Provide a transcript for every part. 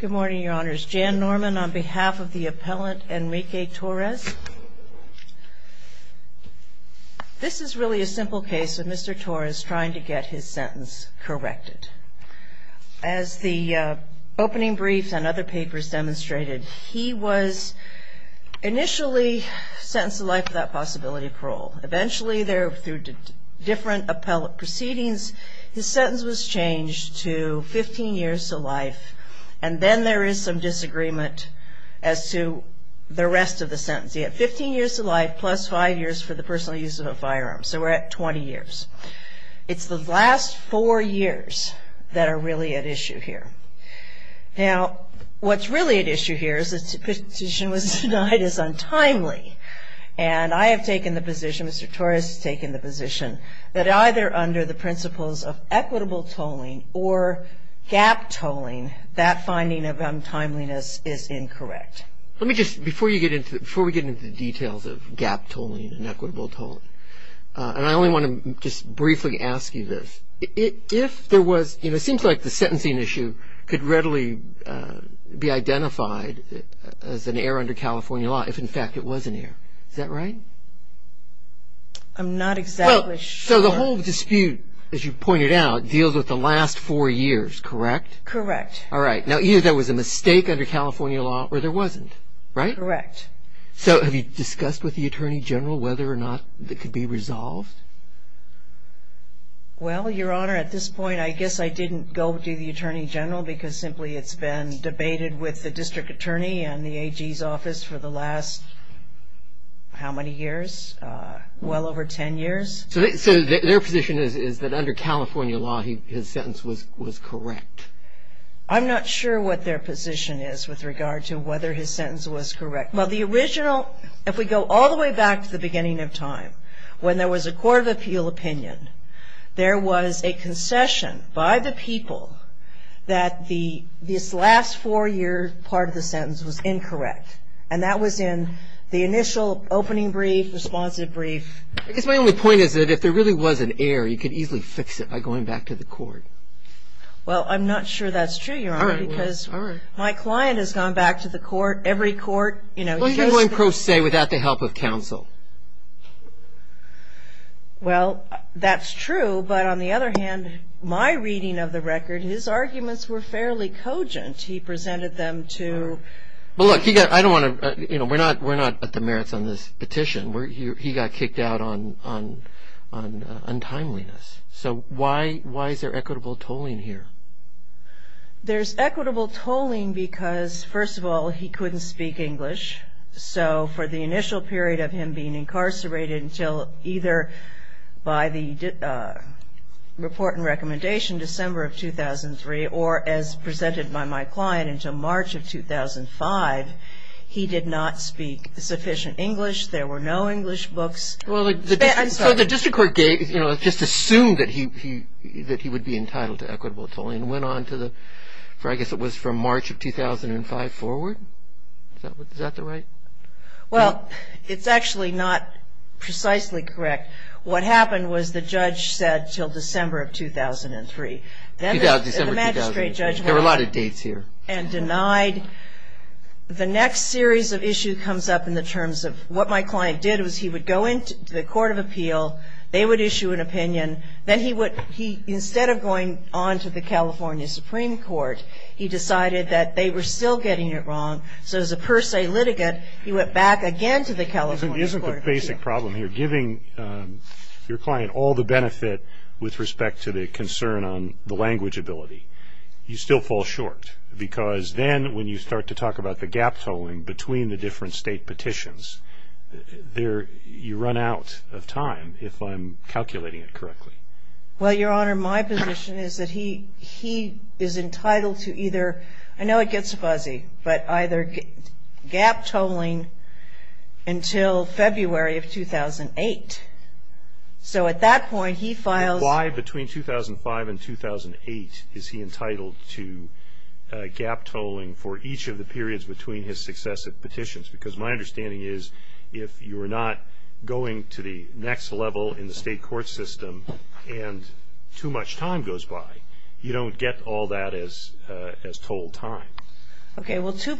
Good morning, Your Honors. Jan Norman on behalf of the Appellant Enrique Torres. This is really a simple case of Mr. Torres trying to get his sentence corrected. As the opening briefs and other papers demonstrated, he was initially sentenced to life without possibility of parole. Eventually, through different appellate proceedings, his sentence was changed to 15 years to life, and then there is some disagreement as to the rest of the sentence. He had 15 years to life plus five years for the personal use of a firearm. So we're at 20 years. It's the last four years that are really at issue here. Now, what's really at issue here is the petition was denied as untimely, and I have taken the position, Mr. Torres has taken the position, that either under the principles of equitable tolling or gap tolling, that finding of untimeliness is incorrect. Let me just, before we get into the details of gap tolling and equitable tolling, and I only want to just briefly ask you this. It seems like the sentencing issue could readily be identified as an error under California law if, in fact, it was an error. Is that right? I'm not exactly sure. So the whole dispute, as you pointed out, deals with the last four years, correct? Correct. All right. Now, either there was a mistake under California law or there wasn't, right? Correct. So have you discussed with the Attorney General whether or not it could be resolved? Well, Your Honor, at this point, I guess I didn't go to the Attorney General because simply it's been debated with the District Attorney and the AG's office for the last how many years, well over ten years. So their position is that under California law his sentence was correct? I'm not sure what their position is with regard to whether his sentence was correct. Well, the original, if we go all the way back to the beginning of time, when there was a Court of Appeal opinion, there was a concession by the people that this last four-year part of the sentence was incorrect. And that was in the initial opening brief, responsive brief. I guess my only point is that if there really was an error, you could easily fix it by going back to the court. Well, I'm not sure that's true, Your Honor. All right. Because my client has gone back to the court, every court, you know. Well, you can go in pro se without the help of counsel. Well, that's true. But on the other hand, my reading of the record, his arguments were fairly cogent. He presented them to... Well, look, I don't want to, you know, we're not at the merits on this petition. He got kicked out on untimeliness. So why is there equitable tolling here? There's equitable tolling because, first of all, he couldn't speak English. So for the initial period of him being incarcerated until either by the report and recommendation December of 2003 or as presented by my client until March of 2005, he did not speak sufficient English. There were no English books. I'm sorry. So the district court just assumed that he would be entitled to equitable tolling and went on to the, I guess it was from March of 2005 forward? Is that the right? Well, it's actually not precisely correct. What happened was the judge said until December of 2003. December of 2003. The magistrate judge... There were a lot of dates here. And denied. The next series of issue comes up in the terms of what my client did was he would go into the Court of Appeal. They would issue an opinion. Then he would, instead of going on to the California Supreme Court, he decided that they were still getting it wrong. So as a per se litigant, he went back again to the California Court of Appeal. Isn't the basic problem here giving your client all the benefit with respect to the concern on the language ability? You still fall short because then when you start to talk about the gap tolling between the different state petitions, you run out of time if I'm calculating it correctly. Well, Your Honor, my position is that he is entitled to either... I know it gets fuzzy, but either gap tolling until February of 2008. So at that point he files... Why between 2005 and 2008 is he entitled to gap tolling for each of the periods between his successive petitions? Because my understanding is if you are not going to the next level in the state court system and too much time goes by, you don't get all that as tolled time. Okay. Well, two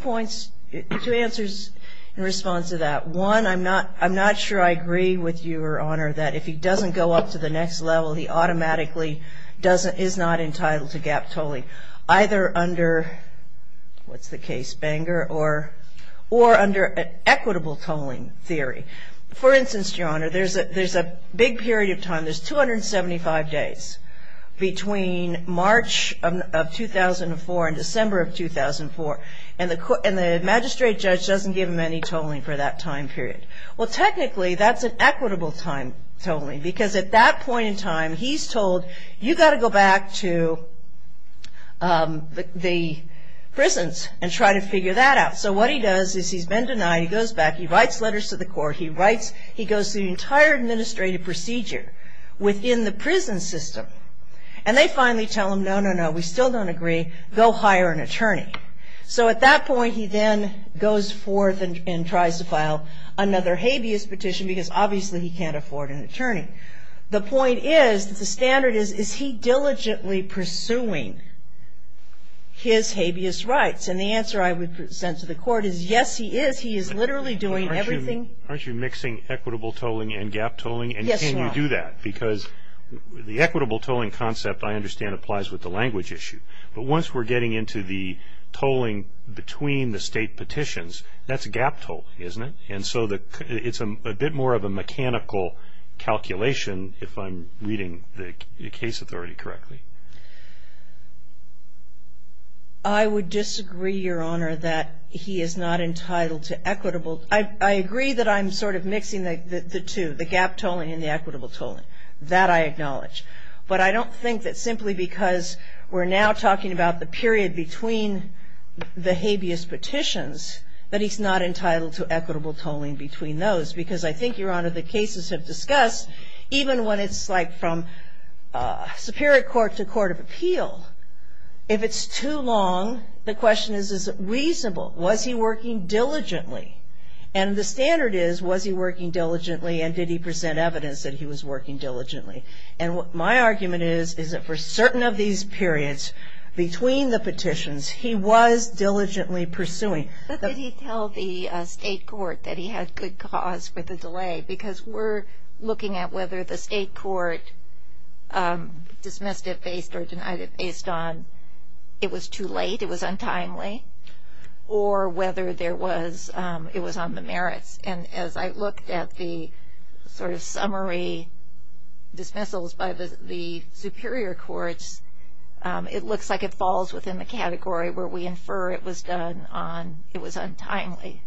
answers in response to that. One, I'm not sure I agree with you, Your Honor, that if he doesn't go up to the next level, he automatically is not entitled to gap tolling either under, what's the case, Bangor, or under an equitable tolling theory. For instance, Your Honor, there's a big period of time. There's 275 days between March of 2004 and December of 2004, and the magistrate judge doesn't give him any tolling for that time period. Well, technically that's an equitable time tolling because at that point in time he's told, you've got to go back to the prisons and try to figure that out. So what he does is he's been denied. He goes back. He writes letters to the court. He goes through the entire administrative procedure within the prison system, and they finally tell him, no, no, no, we still don't agree. Go hire an attorney. So at that point he then goes forth and tries to file another habeas petition because obviously he can't afford an attorney. The point is, the standard is, is he diligently pursuing his habeas rights? And the answer I would send to the court is, yes, he is. He is literally doing everything. Aren't you mixing equitable tolling and gap tolling? Yes, Your Honor. And can you do that? Because the equitable tolling concept, I understand, applies with the language issue. But once we're getting into the tolling between the state petitions, that's gap tolling, isn't it? And so it's a bit more of a mechanical calculation if I'm reading the case authority correctly. I would disagree, Your Honor, that he is not entitled to equitable. I agree that I'm sort of mixing the two, the gap tolling and the equitable tolling. That I acknowledge. But I don't think that simply because we're now talking about the period between the habeas petitions, that he's not entitled to equitable tolling between those. Because I think, Your Honor, the cases have discussed, even when it's like from superior court to court of appeal, if it's too long, the question is, is it reasonable? Was he working diligently? And the standard is, was he working diligently and did he present evidence that he was working diligently? And my argument is, is that for certain of these periods between the petitions, he was diligently pursuing. But did he tell the state court that he had good cause for the delay? Because we're looking at whether the state court dismissed it based or denied it based on it was too late, it was untimely, or whether there was, it was on the merits. And as I looked at the sort of summary dismissals by the superior courts, it looks like it falls within the category where we infer it was done on, it was untimely.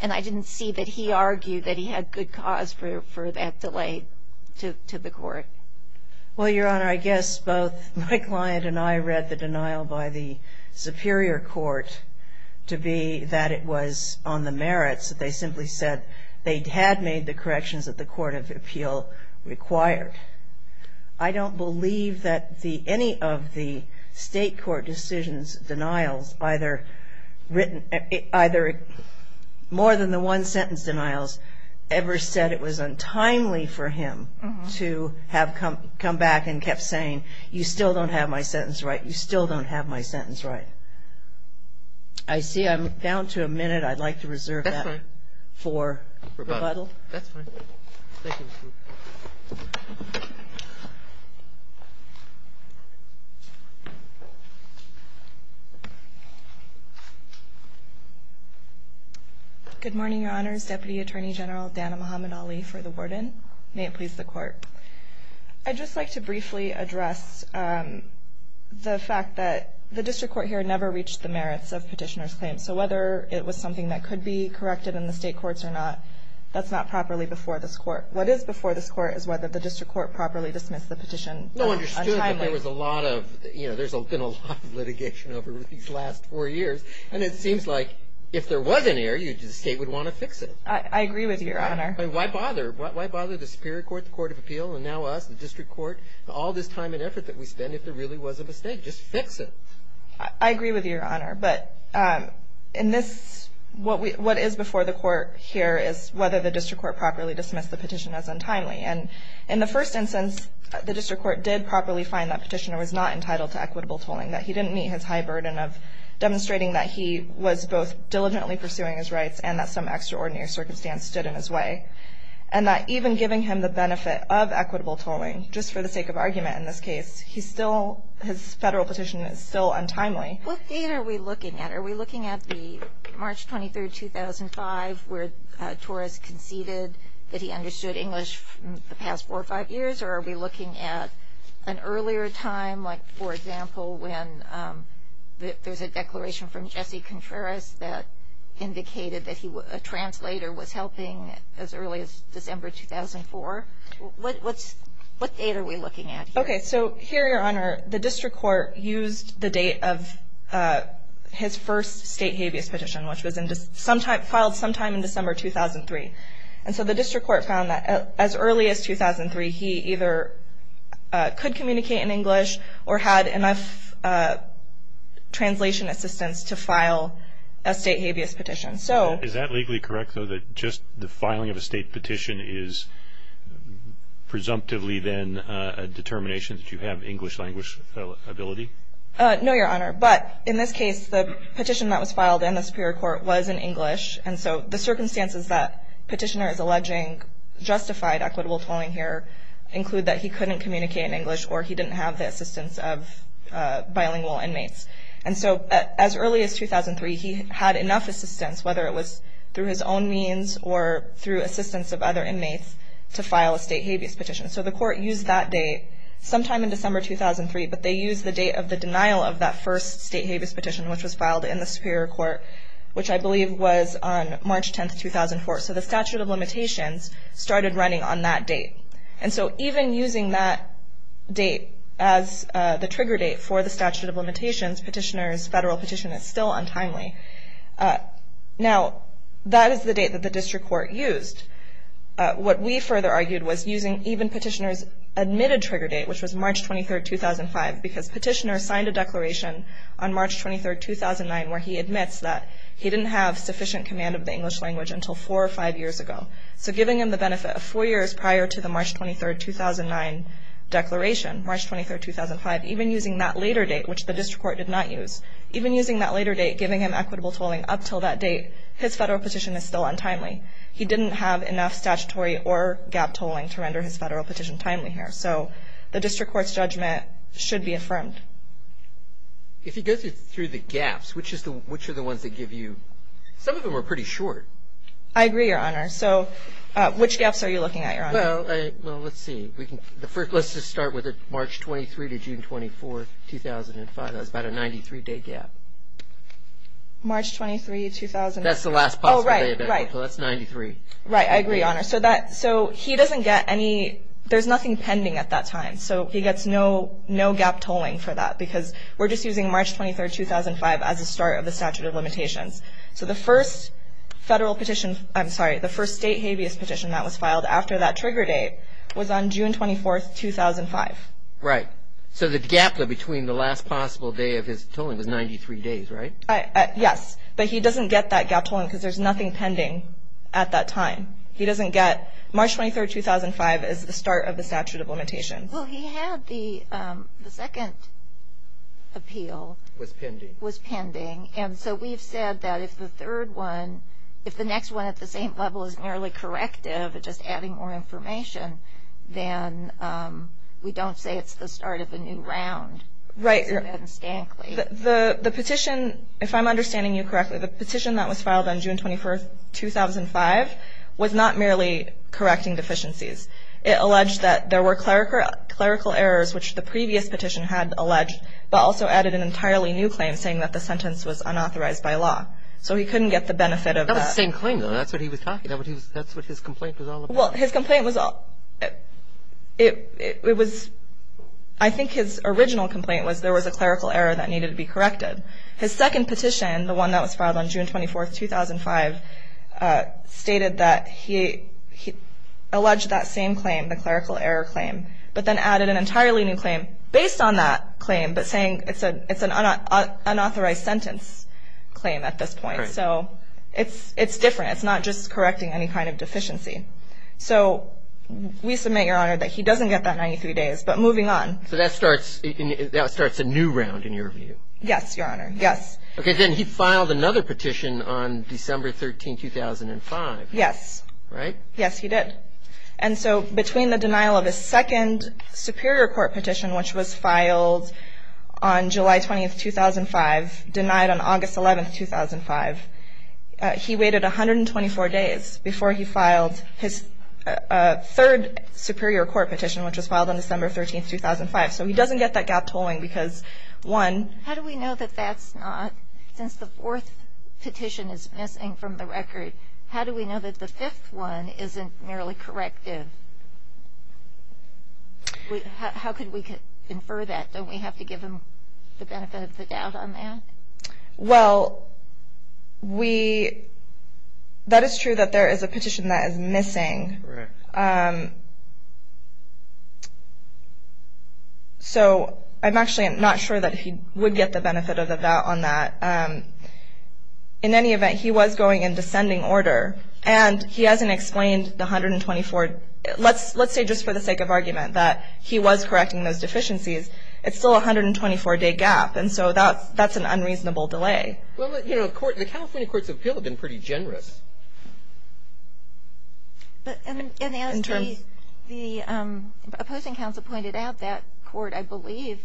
And I didn't see that he argued that he had good cause for that delay to the court. Well, Your Honor, I guess both my client and I read the denial by the superior court to be that it was on the merits. They simply said they had made the corrections that the court of appeal required. I don't believe that any of the state court decisions, denials, either written, more than the one sentence denials ever said it was untimely for him to have come back and kept saying, you still don't have my sentence right. You still don't have my sentence right. I see I'm down to a minute. I'd like to reserve that for rebuttal. That's fine. Thank you. Good morning, Your Honors. Deputy Attorney General Dana Muhammad Ali for the warden. May it please the court. I'd just like to briefly address the fact that the district court here never reached the merits of petitioner's claims. So whether it was something that could be corrected in the state courts or not, that's not properly before this court. What is before this court is whether the district court properly dismissed the petition untimely. No one understood that there was a lot of, you know, there's been a lot of litigation over these last four years. And it seems like if there was an error, the state would want to fix it. I agree with you, Your Honor. Why bother? Why bother the superior court, the court of appeal, and now us, the district court, all this time and effort that we spend if there really was a mistake? Just fix it. I agree with you, Your Honor. But in this, what is before the court here is whether the district court properly dismissed the petition as untimely. And in the first instance, the district court did properly find that petitioner was not entitled to equitable tolling, that he didn't meet his high burden of demonstrating that he was both diligently pursuing his rights and that some extraordinary circumstance stood in his way. And that even giving him the benefit of equitable tolling, just for the sake of argument in this case, he still, his federal petition is still untimely. What date are we looking at? Are we looking at the March 23, 2005, where Torres conceded that he understood English the past four or five years? Or are we looking at an earlier time, like, for example, when there's a declaration from Jesse Contreras that indicated that a translator was helping as early as December 2004? What date are we looking at here? Okay. So here, Your Honor, the district court used the date of his first state habeas petition, which was filed sometime in December 2003. And so the district court found that as early as 2003, he either could communicate in English or had enough translation assistance to file a state habeas petition. Is that legally correct, though, that just the filing of a state petition is presumptively then a determination that you have English language ability? No, Your Honor. But in this case, the petition that was filed in the Superior Court was in English. And so the circumstances that petitioner is alleging justified equitable tolling here include that he couldn't communicate in English or he didn't have the assistance of bilingual inmates. And so as early as 2003, he had enough assistance, whether it was through his own means or through assistance of other inmates, to file a state habeas petition. So the court used that date sometime in December 2003, but they used the date of the denial of that first state habeas petition, which was filed in the Superior Court, which I believe was on March 10th, 2004. So the statute of limitations started running on that date. And so even using that date as the trigger date for the statute of limitations, petitioner's federal petition is still untimely. Now, that is the date that the district court used. What we further argued was using even petitioner's admitted trigger date, which was March 23rd, 2005, because petitioner signed a declaration on March 23rd, 2009, where he admits that he didn't have sufficient command of the English language until four or five years ago. So giving him the benefit of four years prior to the March 23rd, 2009 declaration, March 23rd, 2005, even using that later date, which the district court did not use, even using that later date, giving him equitable tolling up until that date, his federal petition is still untimely. He didn't have enough statutory or gap tolling to render his federal petition timely here. So the district court's judgment should be affirmed. If he goes through the gaps, which are the ones that give you – some of them are pretty short. I agree, Your Honor. So which gaps are you looking at, Your Honor? Well, let's see. Let's just start with March 23rd to June 24th, 2005. That's about a 93-day gap. March 23rd, 2005. That's the last possible day. Oh, right, right. So that's 93. Right, I agree, Your Honor. So he doesn't get any – there's nothing pending at that time. So he gets no gap tolling for that because we're just using March 23rd, 2005 as a start of the statute of limitations. So the first federal petition – I'm sorry, the first state habeas petition that was filed after that trigger date was on June 24th, 2005. Right. So the gap between the last possible day of his tolling was 93 days, right? Yes. But he doesn't get that gap tolling because there's nothing pending at that time. He doesn't get March 23rd, 2005 as the start of the statute of limitations. Well, he had the second appeal. It was pending. It was pending. And so we've said that if the third one, if the next one at the same level is merely corrective, just adding more information, then we don't say it's the start of a new round. Right. The petition, if I'm understanding you correctly, the petition that was filed on June 21st, 2005 was not merely correcting deficiencies. It alleged that there were clerical errors, which the previous petition had alleged, but also added an entirely new claim saying that the sentence was unauthorized by law. So he couldn't get the benefit of that. That was the same claim, though. That's what he was talking about. That's what his complaint was all about. Well, his complaint was all – it was – His second petition, the one that was filed on June 24th, 2005, stated that he alleged that same claim, the clerical error claim, but then added an entirely new claim based on that claim, but saying it's an unauthorized sentence claim at this point. Right. So it's different. It's not just correcting any kind of deficiency. So we submit, Your Honor, that he doesn't get that 93 days. But moving on. So that starts a new round, in your view. Yes, Your Honor. Yes. Okay. Then he filed another petition on December 13th, 2005. Yes. Right? Yes, he did. And so between the denial of his second superior court petition, which was filed on July 20th, 2005, denied on August 11th, 2005, he waited 124 days before he filed his third superior court petition, which was filed on December 13th, 2005. So he doesn't get that gap tolling because, one. How do we know that that's not, since the fourth petition is missing from the record, how do we know that the fifth one isn't merely corrective? How could we infer that? Don't we have to give him the benefit of the doubt on that? Well, that is true that there is a petition that is missing. Correct. So I'm actually not sure that he would get the benefit of the doubt on that. In any event, he was going in descending order, and he hasn't explained the 124. Let's say just for the sake of argument that he was correcting those deficiencies. It's still a 124-day gap. And so that's an unreasonable delay. Well, you know, the California Courts of Appeal have been pretty generous. And as the opposing counsel pointed out, that court, I believe,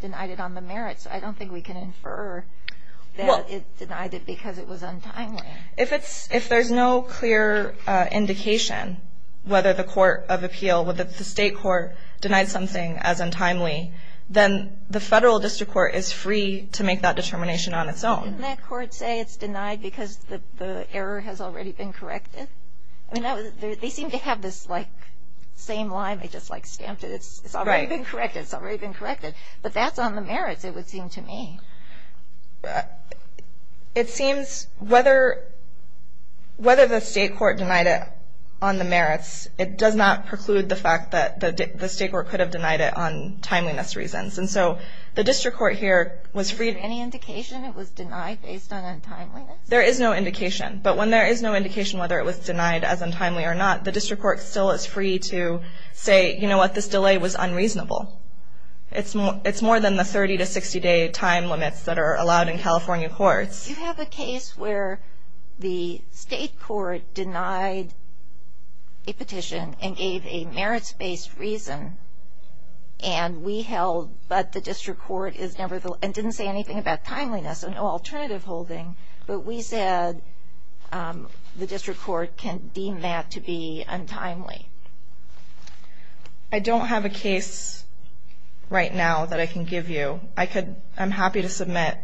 denied it on the merits. I don't think we can infer that it denied it because it was untimely. If there's no clear indication whether the Court of Appeal, whether the state court denied something as untimely, then the federal district court is free to make that determination on its own. Didn't that court say it's denied because the error has already been corrected? I mean, they seem to have this, like, same line. They just, like, stamped it. It's already been corrected. It's already been corrected. But that's on the merits, it would seem to me. It seems whether the state court denied it on the merits, it does not preclude the fact that the state court could have denied it on timeliness reasons. And so the district court here was free. Any indication it was denied based on untimeliness? There is no indication. But when there is no indication whether it was denied as untimely or not, the district court still is free to say, you know what, this delay was unreasonable. It's more than the 30- to 60-day time limits that are allowed in California courts. You have a case where the state court denied a petition and gave a merits-based reason, and we held, but the district court is never the – and didn't say anything about timeliness, no alternative holding, but we said the district court can deem that to be untimely. I don't have a case right now that I can give you. I could – I'm happy to submit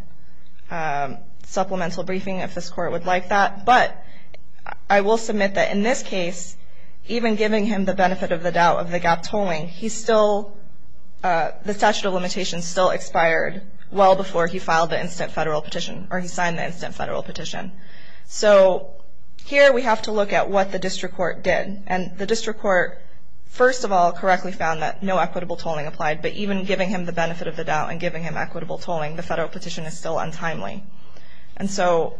supplemental briefing if this court would like that. But I will submit that in this case, even giving him the benefit of the doubt of the gap tolling, he still – the statute of limitations still expired well before he filed the instant federal petition or he signed the instant federal petition. So here we have to look at what the district court did. And the district court, first of all, correctly found that no equitable tolling applied, but even giving him the benefit of the doubt and giving him equitable tolling, the federal petition is still untimely. And so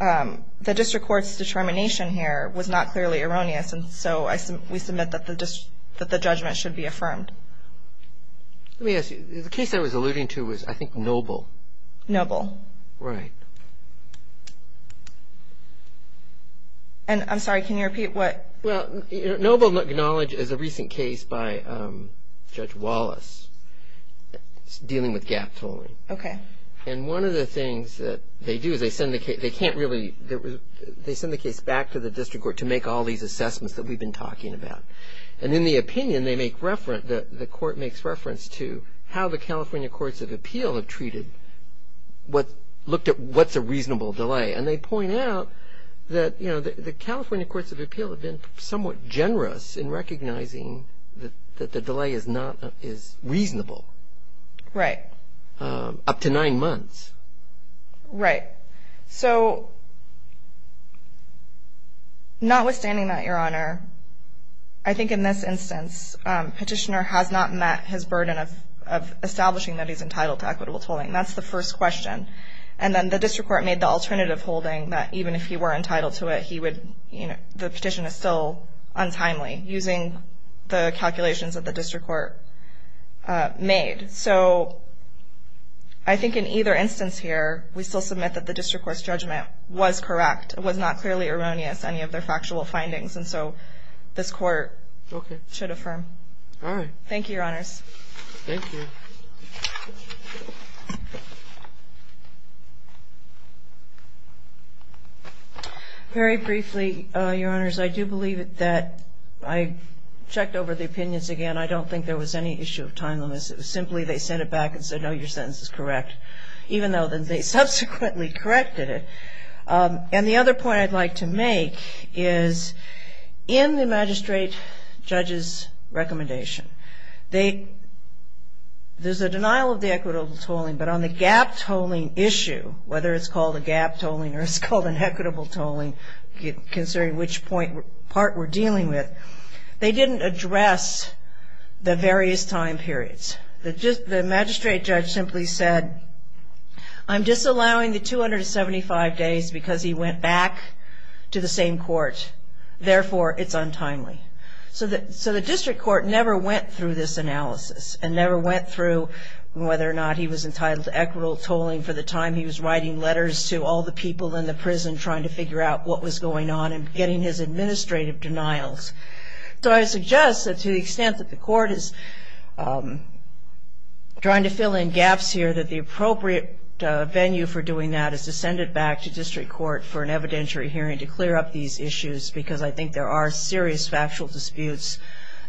the district court's determination here was not clearly erroneous, and so we submit that the judgment should be affirmed. Let me ask you, the case I was alluding to was, I think, Noble. Noble. Right. And I'm sorry, can you repeat what – Well, Noble acknowledged as a recent case by Judge Wallace dealing with gap tolling. Okay. And one of the things that they do is they send the case – they can't really – they send the case back to the district court to make all these assessments that we've been talking about. And in the opinion, they make reference – the court makes reference to how the California Courts of Appeal have treated what – looked at what's a reasonable delay. And they point out that, you know, the California Courts of Appeal have been somewhat generous in recognizing that the delay is not – is reasonable. Right. Up to nine months. Right. So notwithstanding that, Your Honor, I think in this instance, Petitioner has not met his burden of establishing that he's entitled to equitable tolling. That's the first question. And then the district court made the alternative holding that even if he were entitled to it, he would – you know, the petition is still untimely using the calculations that the district court made. So I think in either instance here, we still submit that the district court's judgment was correct. It was not clearly erroneous, any of their factual findings. And so this court should affirm. All right. Thank you, Your Honors. Thank you. Very briefly, Your Honors, I do believe that I checked over the opinions again. I don't think there was any issue of timeliness. It was simply they sent it back and said, no, your sentence is correct, even though they subsequently corrected it. And the other point I'd like to make is in the magistrate judge's recommendation, there's a denial of the equitable tolling, but on the gap tolling issue, whether it's called a gap tolling or it's called an equitable tolling, considering which part we're dealing with, they didn't address the various time periods. The magistrate judge simply said, I'm disallowing the 275 days because he went back to the same court. Therefore, it's untimely. So the district court never went through this analysis and never went through whether or not he was entitled to equitable tolling for the time he was writing letters to all the people in the prison trying to figure out what was going on and getting his administrative denials. So I suggest that to the extent that the court is trying to fill in gaps here, that the appropriate venue for doing that is to send it back to district court for an evidentiary hearing to clear up these issues, because I think there are serious factual disputes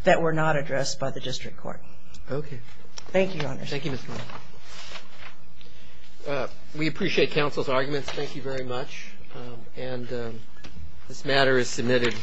that were not addressed by the district court. Okay. Thank you, Your Honor. Thank you, Ms. Miller. We appreciate counsel's arguments. Thank you very much. And this matter is submitted.